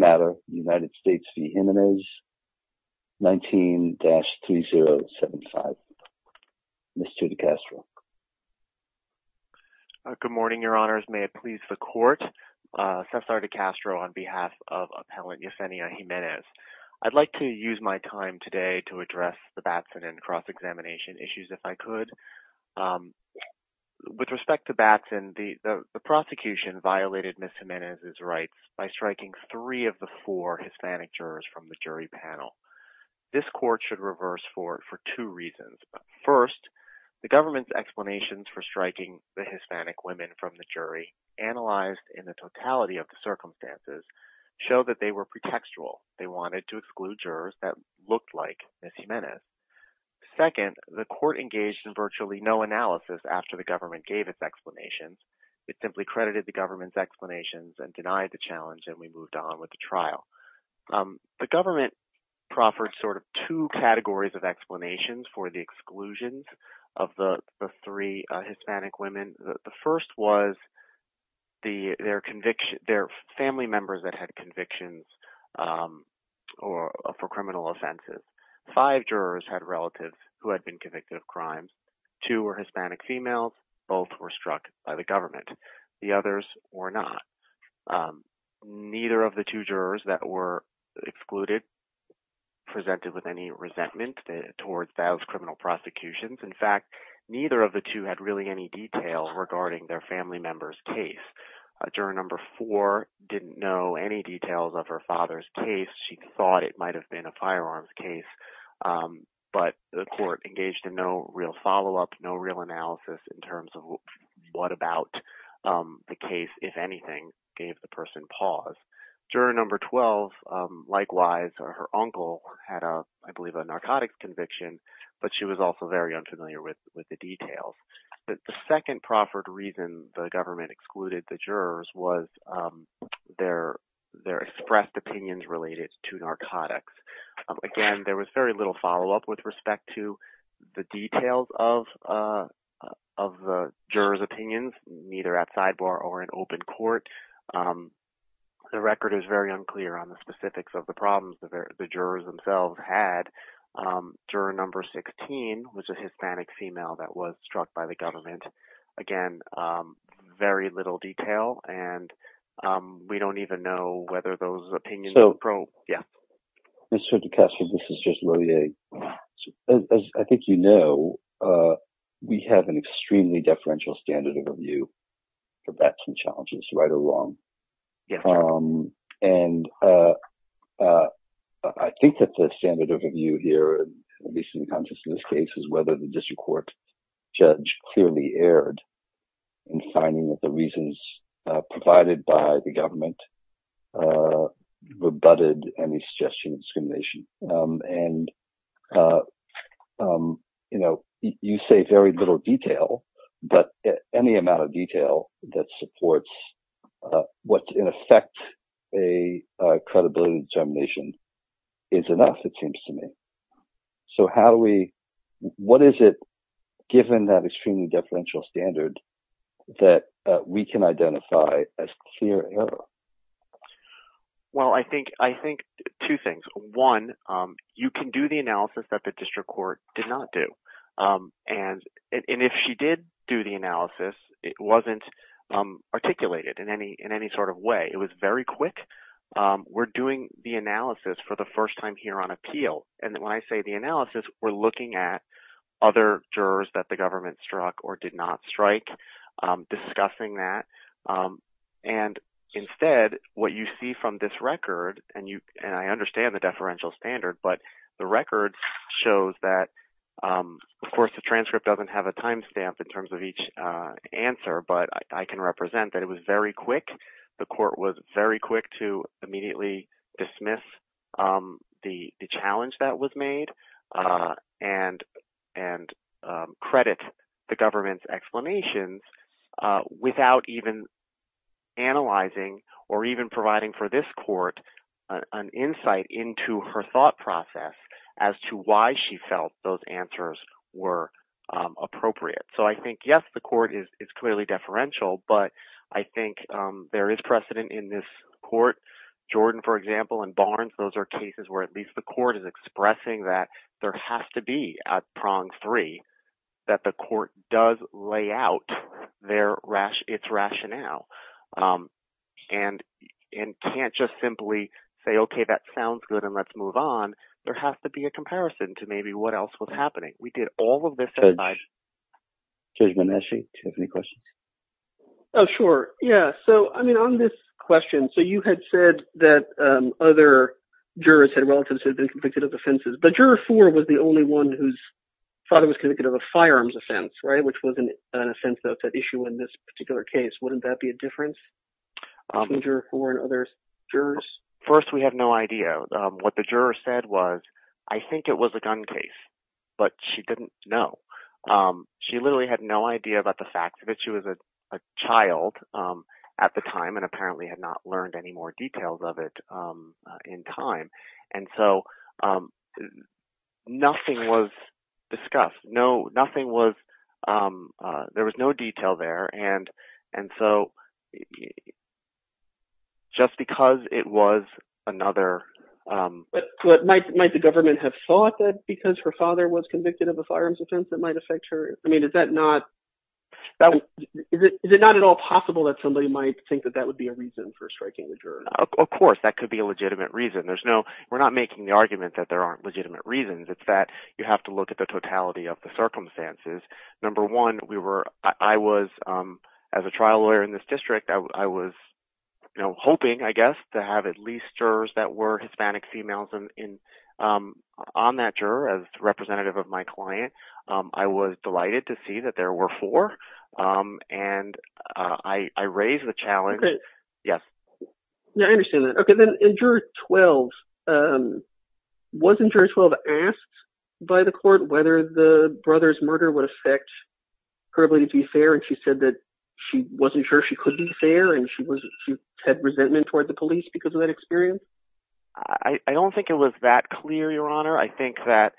19-3075. Mr. DiCastro. Good morning, your honors. May it please the court. Cesar DiCastro on behalf of Appellant Yesenia Jimenez. I'd like to use my time today to address the Batson and cross examination issues if I could. With respect to Batson, the prosecution violated Ms. Jimenez's rights by striking three of the four Hispanic jurors from the jury panel. This court should reverse for it for two reasons. First, the government's explanations for striking the Hispanic women from the jury, analyzed in the totality of the circumstances, show that they were pretextual. They wanted to exclude jurors that looked like Ms. Jimenez. Second, the court engaged in virtually no analysis after the government gave its explanations. It simply credited the government's explanations and denied the challenge and we moved on with the trial. The government proffered sort of two categories of explanations for the exclusions of the three Hispanic women. The first was their family members that had convictions for criminal offenses. Five jurors had relatives who had been convicted of crimes. Two were Hispanic females. Both were struck by the government. The others were not. Neither of the two jurors that were excluded presented with any resentment towards those criminal prosecutions. In fact, neither of the two had really any detail regarding their family member's case. Juror number four didn't know any details of her father's case. She thought it might have been a firearms case, but the court engaged in no real follow-up, no real analysis in terms of what about the case, if anything, gave the person pause. Juror number 12, likewise, her uncle had, I believe, a narcotics conviction, but she was also very unfamiliar with the details. The second proffered reason the government excluded the jurors was their expressed opinions related to narcotics. Again, there was very little follow-up with respect to the details of the jurors' opinions, neither at sidebar or in open court. The record is very unclear on the specifics of the problems the jurors themselves had. Juror number 16 was a Hispanic female that was struck by the government. Again, very little detail, and we don't even know whether those opinions were probed. Yeah. Mr. DeCastro, this is Judge Lillier. As I think you know, we have an extremely deferential standard of review for facts and challenges, right or wrong. I think that the standard of review here, at least in the consciousness case, is whether the district judge clearly erred in finding that the reasons provided by the government rebutted any suggestion of discrimination. You say very little detail, but any amount of detail that supports what's, in effect, a credibility determination is enough, it seems to me. So, what is it, given that extremely deferential standard, that we can identify as clear error? Well, I think two things. One, you can do the analysis that the district court did not do. If she did do the analysis, it wasn't articulated in any sort of way. It was very quick. We're doing the analysis for the first time here on appeal, and when I say the analysis, we're looking at other jurors that the government struck or did not strike, discussing that. Instead, what you see from this record, and I understand the deferential standard, but the record shows that, of course, the transcript doesn't have a timestamp in terms of each The court was very quick to immediately dismiss the challenge that was made and credit the government's explanations without even analyzing or even providing for this court an insight into her thought process as to why she felt those answers were appropriate. So, yes, the court is clearly deferential, but I think there is precedent in this court. Jordan, for example, and Barnes, those are cases where at least the court is expressing that there has to be, at prong three, that the court does lay out its rationale and can't just simply say, okay, that sounds good and let's move on. There has to be a comparison to maybe what else was happening. We did all of this. Judge Bonacci, do you have any questions? Oh, sure. Yeah. So, I mean, on this question, so you had said that other jurors had relatives who had been convicted of offenses, but juror four was the only one whose father was convicted of a firearms offense, right, which was an offense that issue in this particular case. Wouldn't that be a difference between juror four and other jurors? First, we had no idea. What the juror said was, I think it was a gun case, but she didn't know. She literally had no idea about the fact that she was a child at the time and apparently had not learned any more details of it in time, and so nothing was discussed. There was no detail there, and so just because it was another- But might the government have thought that because her father was convicted of a firearms offense that might affect her? I mean, is it not at all possible that somebody might think that that would be a reason for striking the juror? Of course, that could be a legitimate reason. We're not making the argument that there aren't legitimate reasons. It's that you have to look at the totality of the circumstances. Number one, as a trial lawyer in this district, I was hoping, I guess, to have at least jurors that were Hispanic females on that juror as representative of my client. I was delighted to see that there were four, and I raised the challenge. I understand that. Okay, then in juror 12, wasn't juror 12 asked by the court whether the brother's murder would affect her ability to be fair, and she said that she wasn't sure she could be fair, and she had resentment toward the police because of that experience? I don't think it was that clear, Your Honor. I think that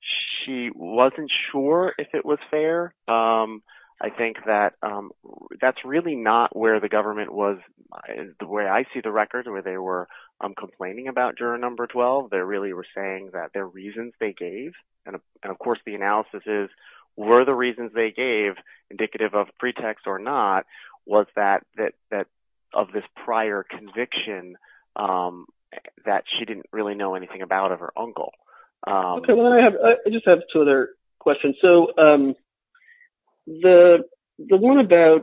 she wasn't sure if it was fair. I think that that's really not where the government was, the way I see the record, where they were complaining about juror number 12. They really were saying that their reasons they gave, and of course the analysis is were the reasons they gave indicative of pretext or not, was that of this prior conviction that she didn't really know anything about of her uncle. Okay, well, I just have two other questions. So the one about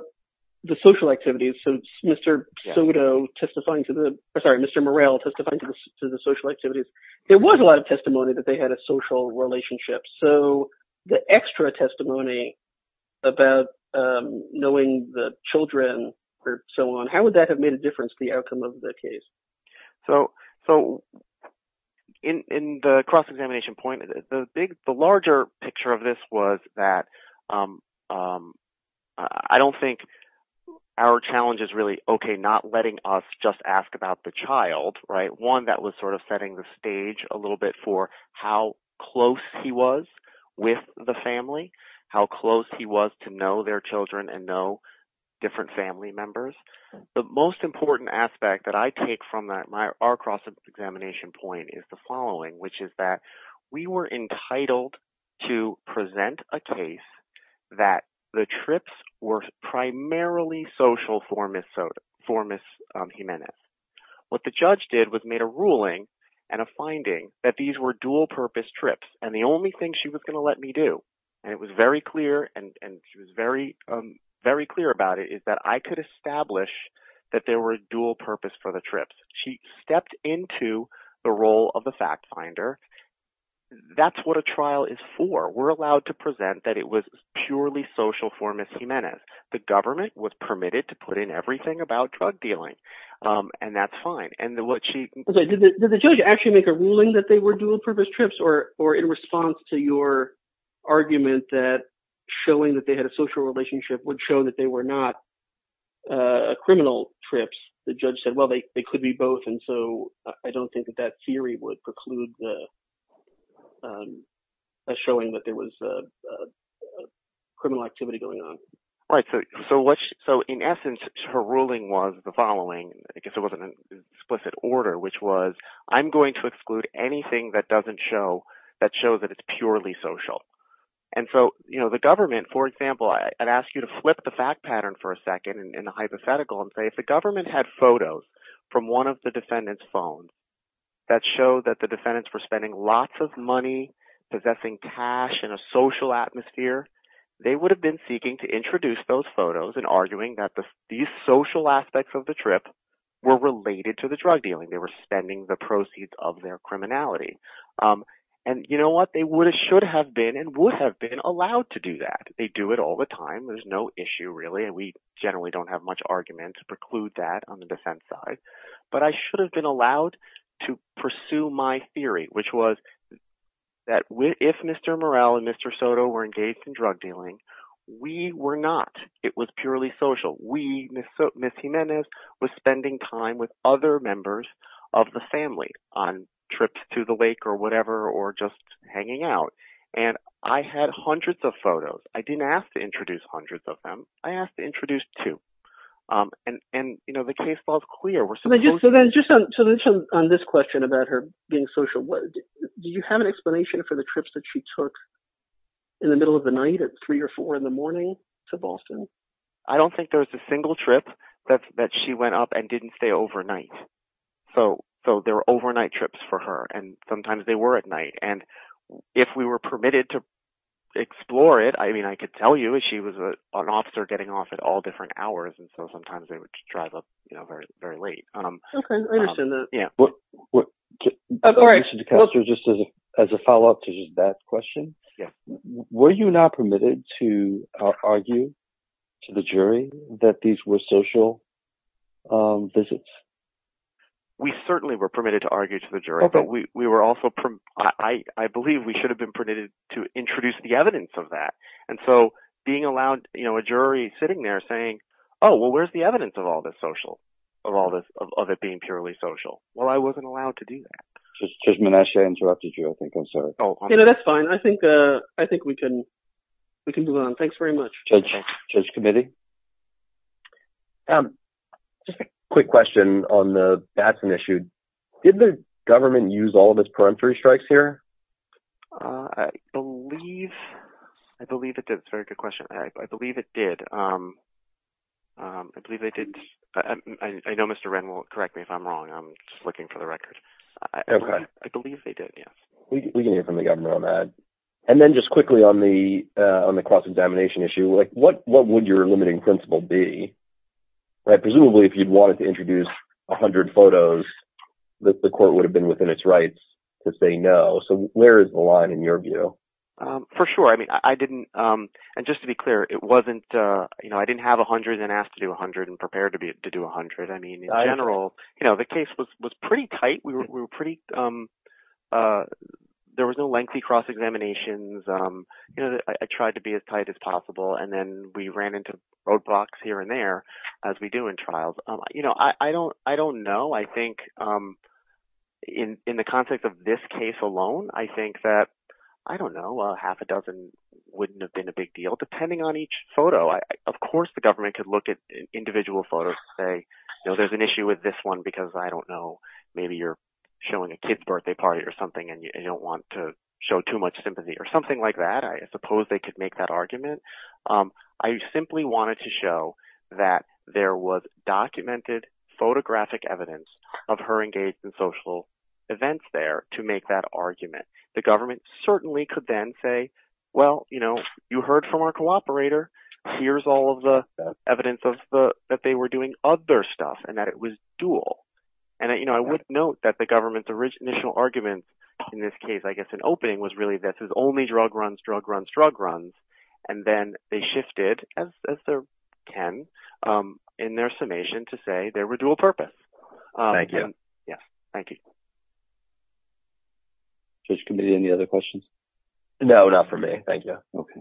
the social activities, so Mr. Soto testifying to the, sorry, Mr. Morrell testifying to the social activities, there was a lot of testimony that they had a social relationship. So the extra testimony about knowing the children or so on, how would that have made a outcome of the case? So in the cross-examination point, the larger picture of this was that I don't think our challenge is really, okay, not letting us just ask about the child, right? One that was sort of setting the stage a little bit for how close he was with the family, how close he was to know their children and know different family members. The most important aspect that I take from that, our cross-examination point is the following, which is that we were entitled to present a case that the trips were primarily social for Ms. Jimenez. What the judge did was made a ruling and a finding that these were dual purpose trips, and the only thing she was going to let me do, and it was very clear, and she was very clear about it, is that I could establish that there were dual purpose for the trips. She stepped into the role of the fact finder. That's what a trial is for. We're allowed to present that it was purely social for Ms. Jimenez. The government was permitted to put in everything about drug dealing, and that's fine. And what she- Did the judge actually make a ruling that they were dual purpose trips, or in response to your argument that showing that they had a social relationship would show that they were not criminal trips, the judge said, well, they could be both, and so I don't think that that theory would preclude the showing that there was a criminal activity going on. Right, so in essence, her ruling was the following. I guess it wasn't an explicit order, which was, I'm going to exclude anything that doesn't show, that shows that it's purely social. And so, you know, the government, for example, I'd ask you to flip the fact pattern for a second in the hypothetical and say, if the government had photos from one of the defendant's phones that showed that the defendants were spending lots of money, possessing cash in a social atmosphere, they would have been seeking to introduce those photos and arguing that these social aspects of the trip were related to the drug dealing, they were spending the proceeds of their criminality. And you know what, they would have, should have been and would have been allowed to do that. They do it all the time, there's no issue really, and we generally don't have much argument to preclude that on the defense side. But I should have been allowed to pursue my theory, which was that if Mr. Morrell and Mr. Soto were engaged in drug dealing, we were not, it was purely social. We, Ms. Jimenez, was spending time with other members of the family on trips to the lake or whatever, or just hanging out. And I had hundreds of photos. I didn't ask to introduce hundreds of them, I asked to introduce two. And, you know, the case was clear. So then just on this question about her being social, do you have an explanation for the trips she took in the middle of the night at three or four in the morning to Boston? I don't think there was a single trip that she went up and didn't stay overnight. So there were overnight trips for her, and sometimes they were at night. And if we were permitted to explore it, I mean, I could tell you she was an officer getting off at all different hours. And so sometimes they would drive up, you know, very, very late. Okay, I understand that. But just as a follow up to that question, were you not permitted to argue to the jury that these were social visits? We certainly were permitted to argue to the jury, but we were also, I believe we should have been permitted to introduce the evidence of that. And so being allowed, you know, a jury sitting there saying, oh, well, where's the evidence of all this social, of all this, of it being purely social? Well, I wasn't allowed to do that. Judge Manesha interrupted you, I think, I'm sorry. No, that's fine. I think we can move on. Thanks very much. Judge Committee? Just a quick question on the Batson issue. Did the government use all of its peremptory strikes here? I believe, I believe it did. That's a very good question. I believe it did. I believe they did. I know Mr. Wren will correct me if I'm wrong. I'm just looking for the record. I believe they did, yes. We can hear from the governor on that. And then just quickly on the cross-examination issue, like what would your limiting principle be? Presumably, if you'd wanted to introduce a hundred photos, the court would have been within its rights to say no. So where is the line in your view? For sure. I mean, I didn't, and just to be clear, it wasn't, you know, I didn't have a hundred and asked to do a hundred and prepared to do a hundred. I mean, in general, you know, the case was pretty tight. We were pretty, there was no lengthy cross-examinations. You know, I tried to be as tight as possible. And then we ran into roadblocks here and there, as we do in trials. You know, I don't know. I think in the context of this case alone, I think that, I don't know, a half a dozen wouldn't have been a big deal, depending on each photo. Of course, the government could look at individual photos and say, you know, there's an issue with this one because I don't know, maybe you're showing a kid's birthday party or something and you don't want to show too much sympathy or something like that. I suppose they could make that argument. I simply wanted to show that there was documented photographic evidence of her engaged in social events there to make that argument. The government certainly could then say, well, you know, you heard from our cooperator. Here's all of the evidence of the, that they were doing other stuff and that it was dual. And, you know, I would note that the government's original argument in this case, I guess, an opening was really that this is only drug runs, drug runs, drug runs. And then they shifted as they can in their summation to say they were dual purpose. Thank you. Yeah. Thank you. Judge Committee, any other questions? No, not for me. Thank you. Okay.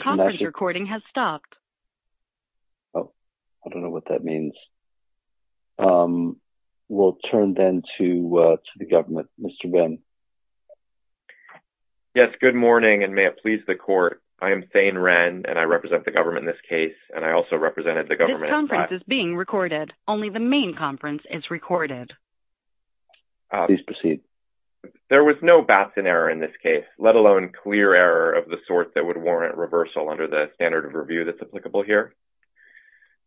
Conference recording has stopped. Oh, I don't know what that means. We'll turn then to the government, Mr. Ren. Yes. Good morning and may it please the court. I am Thane Ren and I represent the government in case. And I also represented the government. This conference is being recorded. Only the main conference is recorded. Please proceed. There was no Batson error in this case, let alone clear error of the sort that would warrant reversal under the standard of review that's applicable here.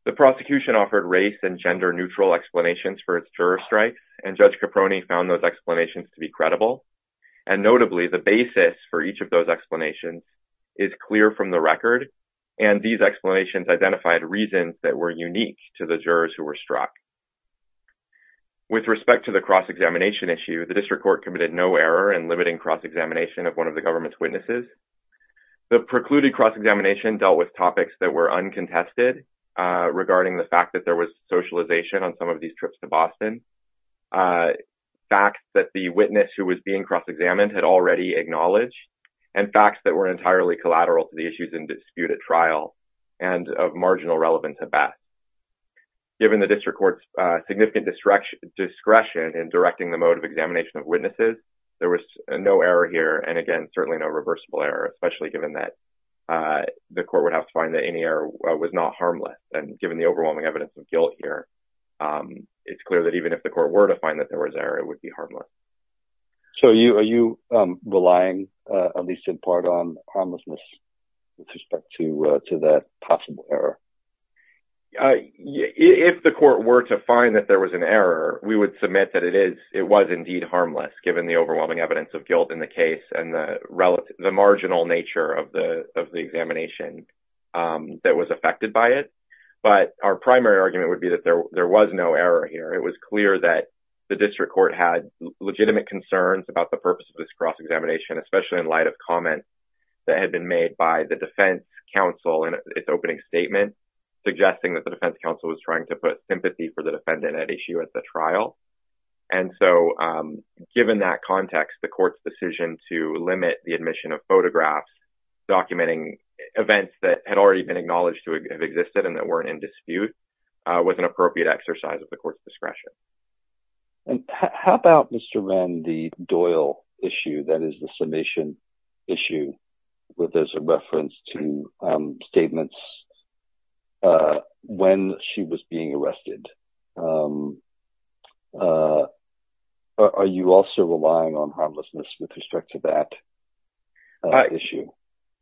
The prosecution offered race and gender neutral explanations for its juror strikes. And Judge Caproni found those explanations to be credible. And notably the basis for each of those explanations is clear from the record. And these explanations identified reasons that were unique to the jurors who were struck. With respect to the cross-examination issue, the district court committed no error in limiting cross-examination of one of the government's witnesses. The precluded cross-examination dealt with topics that were uncontested regarding the fact that there was socialization on some of these trips to Boston. Facts that the witness who was being cross-examined had already acknowledged. And facts that were entirely collateral to the issues in dispute at trial. And of marginal relevance at best. Given the district court's significant discretion in directing the mode of examination of witnesses, there was no error here. And again, certainly no reversible error, especially given that the court would have to find that any error was not harmless. And given the overwhelming evidence of guilt here, it's clear that even if the court were to find that there was error, it would be harmless. So, are you relying, at least in part, on harmlessness with respect to that possible error? If the court were to find that there was an error, we would submit that it was indeed harmless given the overwhelming evidence of guilt in the case and the marginal nature of the examination that was affected by it. But our primary argument would be that there was no error here. It was clear that the district court had legitimate concerns about the purpose of this cross-examination, especially in light of comments that had been made by the defense counsel in its opening statement suggesting that the defense counsel was trying to put sympathy for the defendant at issue at the trial. And so, given that context, the court's decision to limit the admission of photographs documenting events that had already been acknowledged to have existed and that weren't in dispute was an appropriate exercise of the court's discretion. And how about, Mr. Wren, the Doyle issue, that is the summation issue, where there's a reference to statements when she was being arrested. Are you also relying on harmlessness with respect to that issue?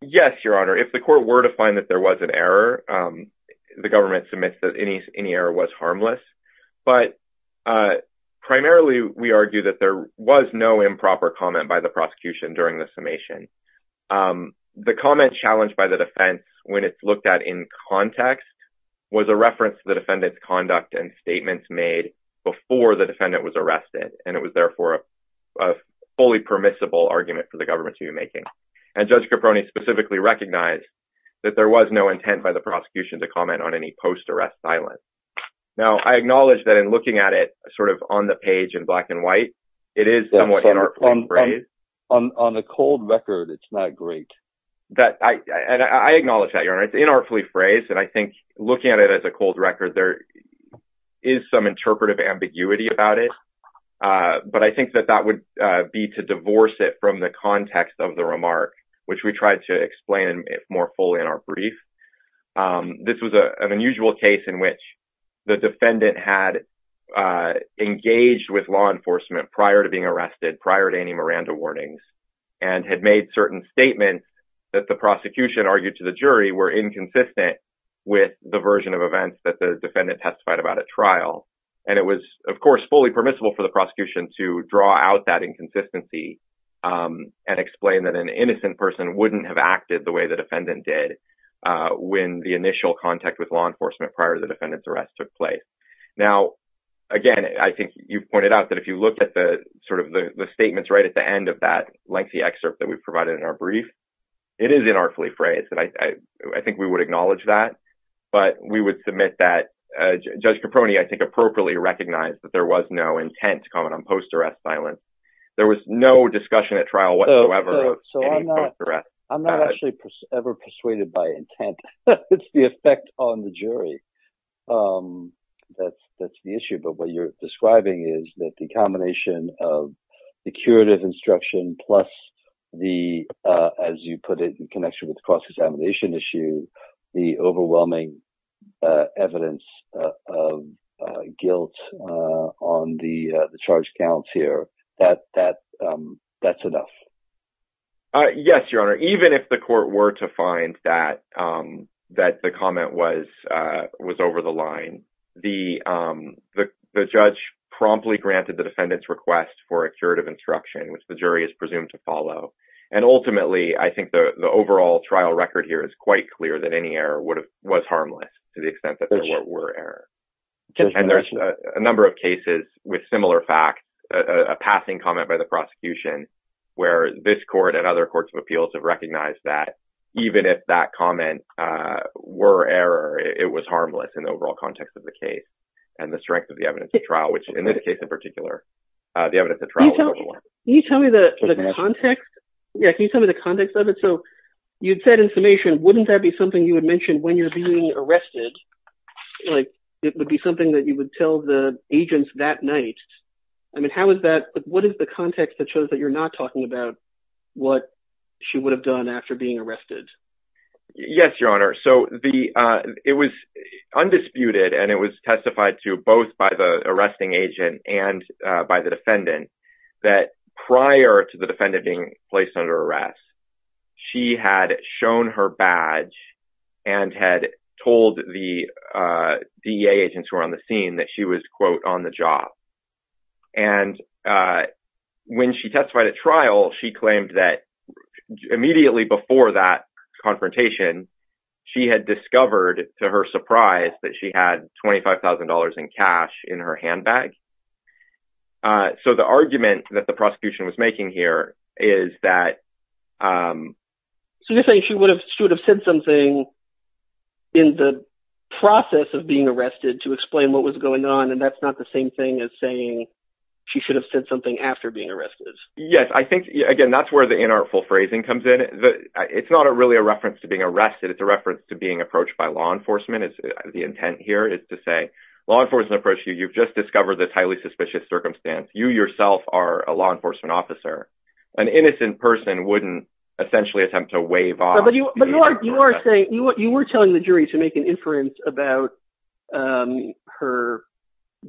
Yes, Your Honor. If the court were to find that there was an error, the government submits that any error was harmless. But primarily, we argue that there was no improper comment by the prosecution during the summation. The comment challenged by the defense when it's looked at in context was a reference to the defendant's conduct and statements made before the defendant was arrested, and it was therefore a fully permissible argument for the government to be making. And Judge Caproni specifically recognized that there was no intent by the prosecution to comment on any post-arrest silence. Now, I acknowledge that in looking at it sort of on the page in black and white, it is somewhat inartfully phrased. On a cold record, it's not great. I acknowledge that, Your Honor. It's inartfully phrased, and I think looking at it as a cold record, there is some interpretive ambiguity about it. But I think that that would be to divorce it from the context of the remark, which we tried to explain more fully in our brief. This was an unusual case in which the defendant had engaged with law enforcement prior to being arrested, prior to any Miranda warnings, and had made certain statements that the prosecution argued to the jury were inconsistent with the version of events that the defendant testified about at trial. And it was, of course, fully permissible for the prosecution to draw out that inconsistency and explain that an innocent person wouldn't have acted the way the defendant did when the initial contact with law enforcement prior to the defendant's arrest took place. Now, again, I think you've pointed out that if you look at the sort of the statements right at the end of that lengthy excerpt that we've provided in our brief, it is inartfully phrased, and I think we would acknowledge that. But we would admit that Judge Caproni, I think, appropriately recognized that there was no intent to comment on post-arrest silence. There was no discussion at trial whatsoever of any post-arrest. I'm not actually ever persuaded by intent. It's the effect on the jury that's the issue. But what you're describing is that the combination of the curative instruction plus the, as you put it, connection with the cross-examination issue, the overwhelming evidence of guilt on the charge counts here, that's enough. Yes, Your Honor. Even if the court were to find that the comment was over the line, the judge promptly granted the defendant's request for a curative instruction, which the jury is presumed to follow. And ultimately, I think the overall trial record here is quite clear that any error was harmless to the extent that there were errors. And there's a number of cases with similar facts, a passing comment by the prosecution, where this court and other courts of appeals have recognized that even if that comment were error, it was harmless in the overall context of the case and the strength of the evidence of trial, which in this case in particular, the evidence of trial was over the line. Can you tell me the context? Yeah, can you tell me the context of it? So, you'd said in summation, wouldn't that be something you would mention when you're being arrested? Like, it would be something that you would tell the agents that night. I mean, how is that, what is the context that shows that you're not talking about what she would have done after being arrested? Yes, Your Honor. So, it was undisputed and it was testified to both by the arresting agent and by the defendant that prior to the defendant being placed under arrest, she had shown her badge and had told the DEA agents who were on the scene that she was, quote, on the job. And when she testified at trial, she claimed that immediately before that in cash in her handbag. So, the argument that the prosecution was making here is that. So, you're saying she would have said something in the process of being arrested to explain what was going on and that's not the same thing as saying she should have said something after being arrested. Yes, I think, again, that's where the inartful phrasing comes in. It's not really a reference to being arrested. It's a reference to being approached by law enforcement. The intent here is to say, law enforcement approached you. You've just discovered this highly suspicious circumstance. You yourself are a law enforcement officer. An innocent person wouldn't essentially attempt to wave off. But you are saying, you were telling the jury to make an inference about her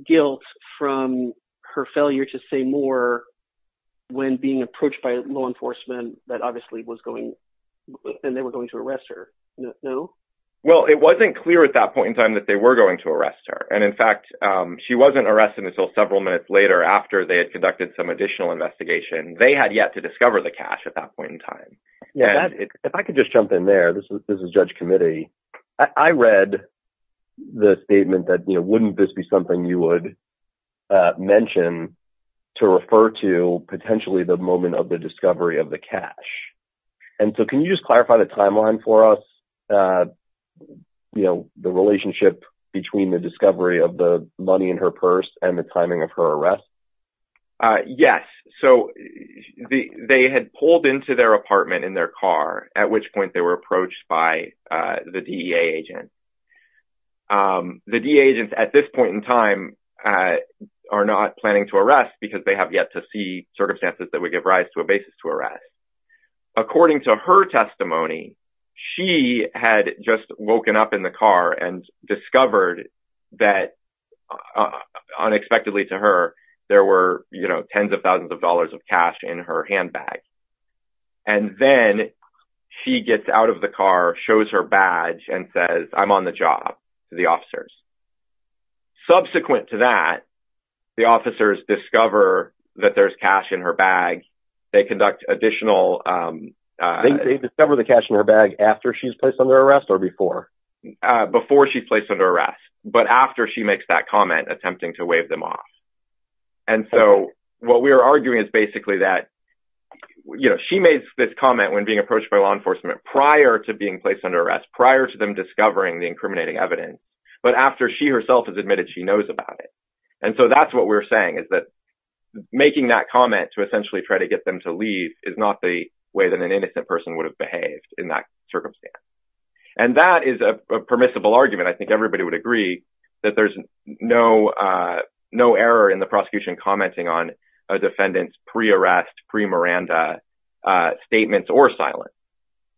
guilt from her failure to say more when being approached by law enforcement that obviously was going and they were going to arrest her. No? Well, it wasn't clear at that point in time that they were going to arrest her. And in fact, she wasn't arrested until several minutes later after they had conducted some additional investigation. They had yet to discover the cash at that point in time. If I could just jump in there. This is Judge Committee. I read the statement that wouldn't this be something you would mention to refer to potentially the moment of the discovery of the cash. And so, can you just clarify the timeline for us? You know, the relationship between the discovery of the money in her purse and the timing of her arrest? Yes. So, they had pulled into their apartment in their car, at which point they were approached by the DEA agent. The DEA agents at this point in time are not planning to arrest because they have yet to see circumstances that would give rise to a basis to arrest. According to her testimony, she had just woken up in the car and discovered that unexpectedly to her, there were, you know, tens of thousands of dollars of cash in her handbag. And then she gets out of the car, shows her badge and says, I'm on the job to the officers. Subsequent to that, the officers discover that there's cash in her bag. They conduct additional... They discover the cash in her bag after she's placed under arrest or before? Before she's placed under arrest, but after she makes that comment, attempting to wave them off. And so, what we're arguing is basically that, you know, she made this comment when being approached by law enforcement prior to being placed under arrest, prior to them discovering the incriminating evidence, but after she herself has admitted she knows about it. And so, that's what we're saying, is that making that comment to essentially try to get them to leave is not the way that an innocent person would have behaved in that circumstance. And that is a permissible argument. I think everybody would agree that there's no error in the prosecution commenting on a defendant's pre-arrest, pre-Miranda statements or silence.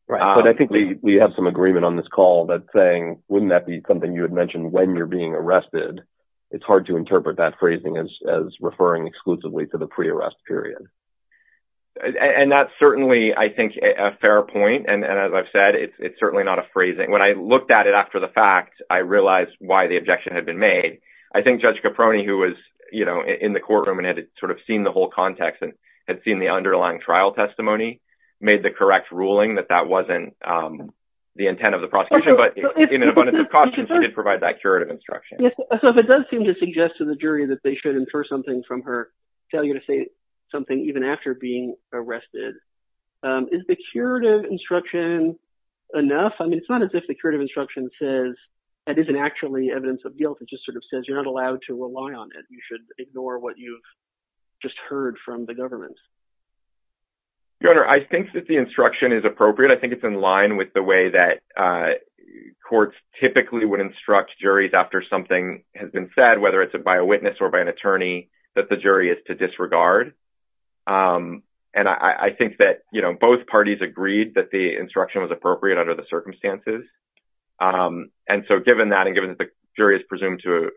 But I think we have some agreement on this call that saying, wouldn't that be something you had arrested? It's hard to interpret that phrasing as referring exclusively to the pre-arrest period. And that's certainly, I think, a fair point. And as I've said, it's certainly not a phrasing. When I looked at it after the fact, I realized why the objection had been made. I think Judge Caproni, who was, you know, in the courtroom and had sort of seen the whole context and had seen the underlying trial testimony, made the correct ruling that that wasn't the intent of the prosecution. But in an abundance of caution, she did provide that curative instruction. So, if it does seem to suggest to the jury that they should infer something from her failure to say something even after being arrested, is the curative instruction enough? I mean, it's not as if the curative instruction says that isn't actually evidence of guilt. It just sort of says you're not allowed to rely on it. You should ignore what you've just heard from the government. Your Honor, I think that the instruction is appropriate. I think it's in line with the way that courts typically would instruct juries after something has been said, whether it's by a witness or by an attorney, that the jury is to disregard. And I think that, you know, both parties agreed that the instruction was appropriate under the circumstances. And so, given that and given that the jury is presumed to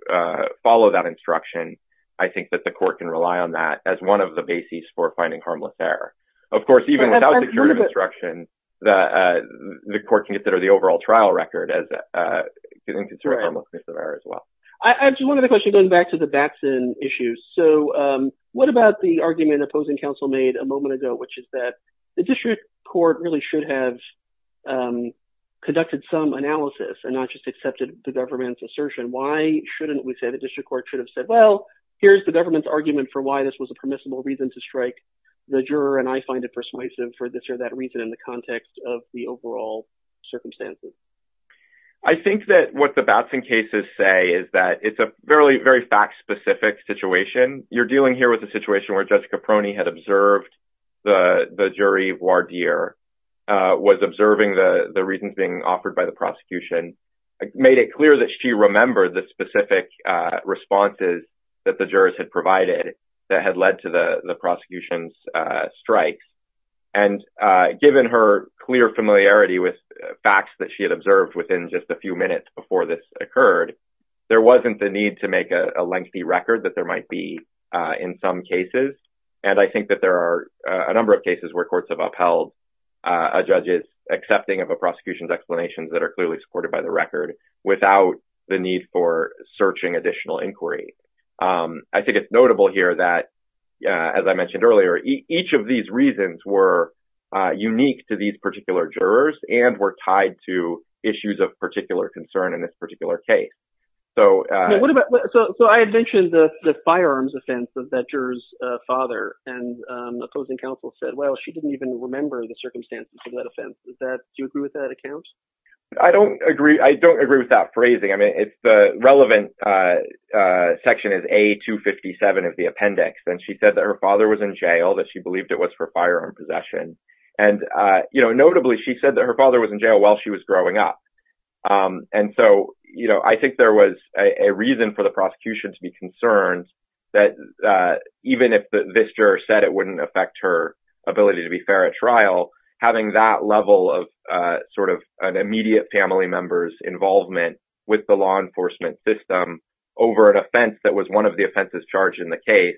follow that instruction, I think that the court can rely on that as one of the bases for finding harmless error. Of course, even without the court can consider the overall trial record as a harmless misdemeanor as well. I have one other question going back to the Batson issue. So, what about the argument opposing counsel made a moment ago, which is that the district court really should have conducted some analysis and not just accepted the government's assertion? Why shouldn't we say the district court should have said, well, here's the government's argument for why this was a permissible reason to strike the juror, and I find it persuasive for this or that reason in context of the overall circumstances. I think that what the Batson cases say is that it's a very, very fact-specific situation. You're dealing here with a situation where Jessica Proney had observed the jury voir dire, was observing the reasons being offered by the prosecution, made it clear that she remembered the specific responses that the jurors had provided that had led to the prosecution's strikes. And given her clear familiarity with facts that she had observed within just a few minutes before this occurred, there wasn't the need to make a lengthy record that there might be in some cases. And I think that there are a number of cases where courts have upheld a judge's accepting of a prosecution's explanations that are clearly supported by the record without the need for searching additional inquiry. I think it's important to note here that, as I mentioned earlier, each of these reasons were unique to these particular jurors and were tied to issues of particular concern in this particular case. So I had mentioned the firearms offense of that juror's father, and opposing counsel said, well, she didn't even remember the circumstances of that offense. Do you agree with that account? I don't agree. I don't agree with that phrasing. I mean, it's the relevant section is A257 of the appendix. And she said that her father was in jail, that she believed it was for firearm possession. And, you know, notably, she said that her father was in jail while she was growing up. And so, you know, I think there was a reason for the prosecution to be concerned that even if this juror said it wouldn't affect her ability to be fair at trial, having that level of sort of an immediate family member's involvement with the law enforcement system over an offense that was one of the offenses charged in the case.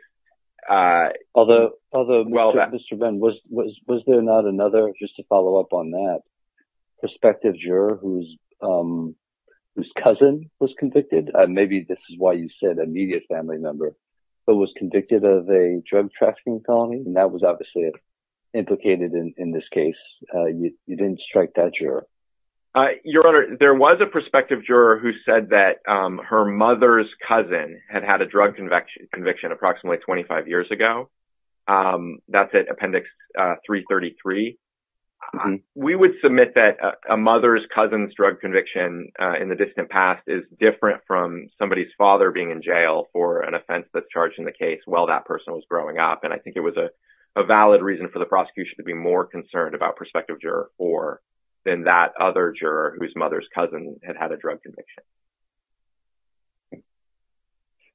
Although, Mr. Ben, was there not another, just to follow up on that, prospective juror whose cousin was convicted? Maybe this is why you said immediate family member, but was convicted of a drug trafficking felony. And that was obviously implicated in this case. You didn't strike that juror. Your Honor, there was a prospective juror who said that her mother's cousin had had a drug conviction approximately 25 years ago. That's at appendix 333. We would submit that a mother's cousin's drug conviction in the distant past is different from somebody's father being in jail for an offense that's charged in the case while that person was growing up. And I think it was a valid reason for the prosecution to be more concerned about prospective juror or than that other juror whose mother's cousin had had a drug conviction.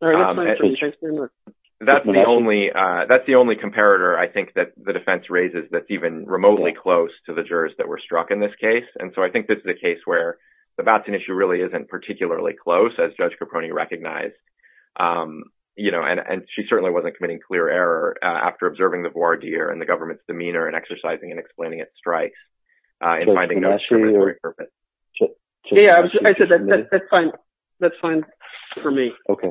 That's the only, that's the only comparator I think that the defense raises that's even remotely close to the jurors that were struck in this case. And so I think this is a case where the Batson issue really isn't particularly close as Judge Caproni recognized. You know, and she certainly wasn't committing clear error after observing the voir dire and the government's demeanor and exercising and explaining its strikes and finding no discriminatory purpose. Yeah, I said that's fine. That's fine for me. Okay.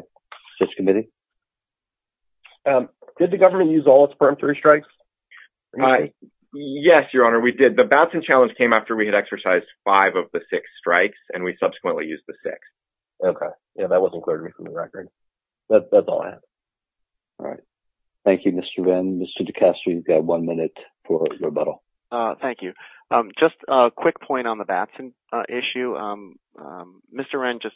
Judge Kamidi? Did the government use all its peremptory strikes? I, yes, your honor, we did. The Batson challenge came after we had exercised five of the six strikes and we subsequently used the six. Okay. Yeah, that wasn't clear to me from the record. That's all I have. All right. Thank you, Mr. Wren. Mr. DeCastro, you've got one minute for rebuttal. Thank you. Just a quick point on the Batson issue. Mr. Wren just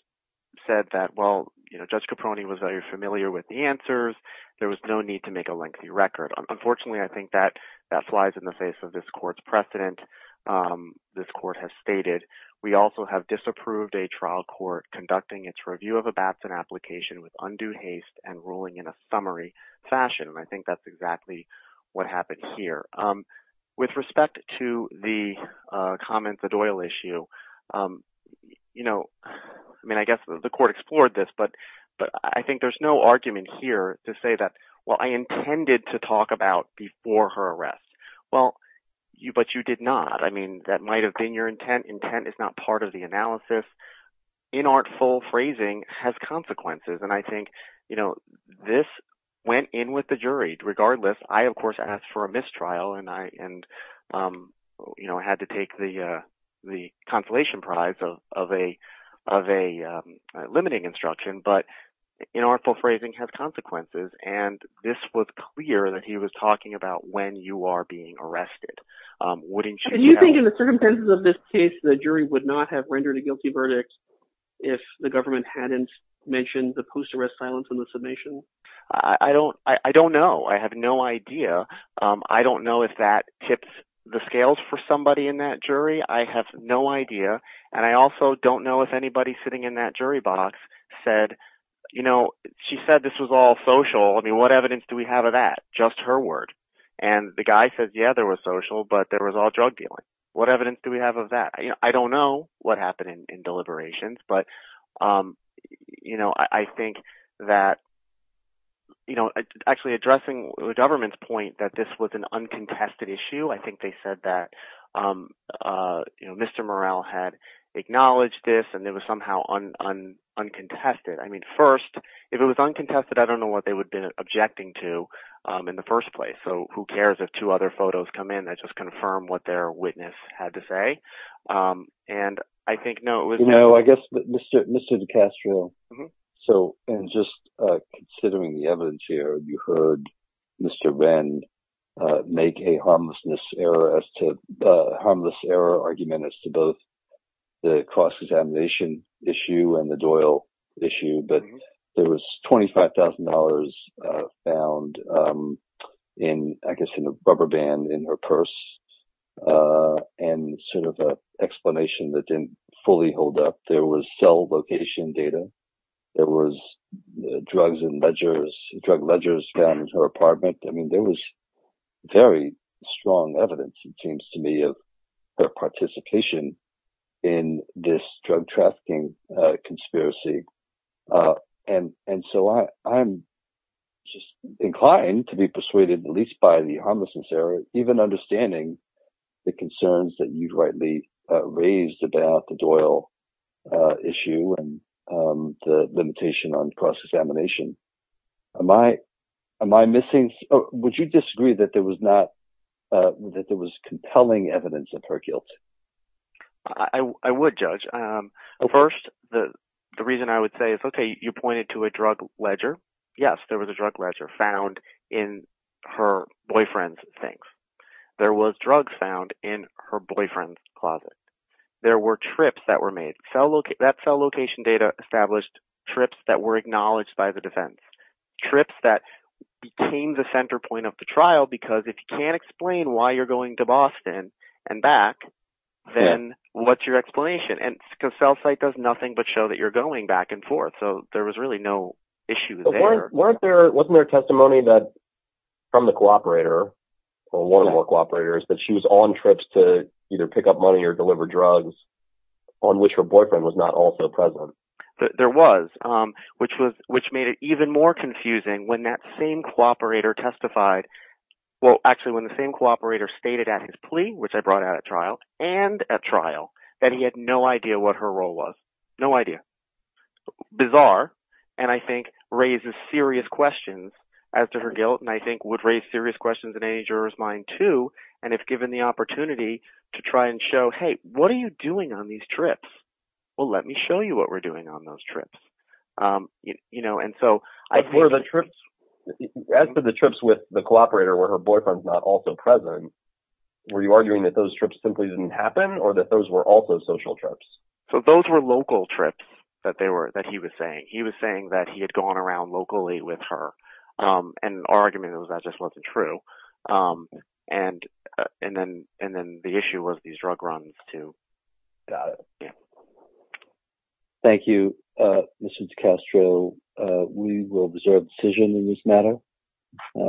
said that, well, you know, Judge Caproni was very familiar with the answers. There was no need to make a lengthy record. Unfortunately, I think that that flies in the face of this court's precedent. This court has stated, we also have disapproved a trial court conducting its review of a Batson application with undue haste and ruling in a summary fashion. And I think that's exactly what happened here. With respect to the comments at oil issue, you know, I mean, I guess the court explored this, but I think there's no argument here to say that, well, I intended to talk about before her arrest. Well, you, but you did not. I mean, that might've been your intent. Intent is not part of the analysis. Inartful phrasing has consequences. And I think, you know, this went in with the jury regardless. I, of course, asked for a mistrial and I, and, you know, had to take the, the consolation prize of, of a, of a limiting instruction, but inartful phrasing has consequences. And this was clear that he was talking about when you are being arrested. Wouldn't you think in the circumstances of this case, the jury would not have rendered a guilty verdict if the government hadn't mentioned the post arrest silence in the submission? I don't, I don't know. I have no idea. I don't know if that tips the scales for somebody in that jury. I have no idea. And I also don't know if anybody sitting in that jury box said, you know, she said this was all social. I mean, what evidence do we have of that? Just her word. And the guy says, yeah, there was social, but there was all drug dealing. What evidence do we have of that? I don't know what happened in deliberations, but you know, I think that, you know, actually addressing the government's point that this was an uncontested issue. I think they said that, you know, Mr. Morrell had acknowledged this and it was somehow uncontested. I mean, first, if it was uncontested, I don't know what they would have been objecting to in the first place. So who cares if two other photos come in that just confirm what their witness had to say. And I think, no, it was no, I guess Mr. DeCastro. So, and just considering the evidence here, you heard Mr. Wren make a harmlessness error as to, harmless error argument as to both the cross-examination issue and the Doyle issue, but there was $25,000 found in, I guess, in a rubber band in her purse and sort of an fully holed up. There was cell location data. There was drugs and ledgers, drug ledgers found in her apartment. I mean, there was very strong evidence, it seems to me, of her participation in this drug trafficking conspiracy. And so I'm just inclined to be persuaded, at least by the harmlessness error, even understanding the concerns that you've raised about the Doyle issue and the limitation on cross-examination. Would you disagree that there was compelling evidence of her guilt? I would judge. First, the reason I would say is, okay, you pointed to a drug ledger. Yes, there was a drug ledger found in her boyfriend's things. There was drugs found in her boyfriend's closet. There were trips that were made. That cell location data established trips that were acknowledged by the defense. Trips that became the center point of the trial, because if you can't explain why you're going to Boston and back, then what's your explanation? And cell site does nothing but show that you're going back and forth. So there was really no issue there. Wasn't there testimony from the cooperator, or one of the cooperators, that she was on trips to either pick up money or deliver drugs, on which her boyfriend was not also present? There was, which made it even more confusing when that same cooperator testified. Well, actually, when the same cooperator stated at his plea, which I brought out at trial, and at trial, that he had no idea what her role was. No idea. Bizarre, and I think raises serious questions as to her guilt, and I think would raise serious questions in any juror's mind too, and if given the opportunity to try and show, hey, what are you doing on these trips? Well, let me show you what we're doing on those trips. As for the trips with the cooperator where her boyfriend's not also present, were you arguing that those trips simply didn't happen, or that those were also social trips? So those were local trips that he was saying. He was saying that he had gone around locally with her, and then the issue was these drug runs too. Got it. Thank you, Mr. DiCastro. We will observe the decision in this matter.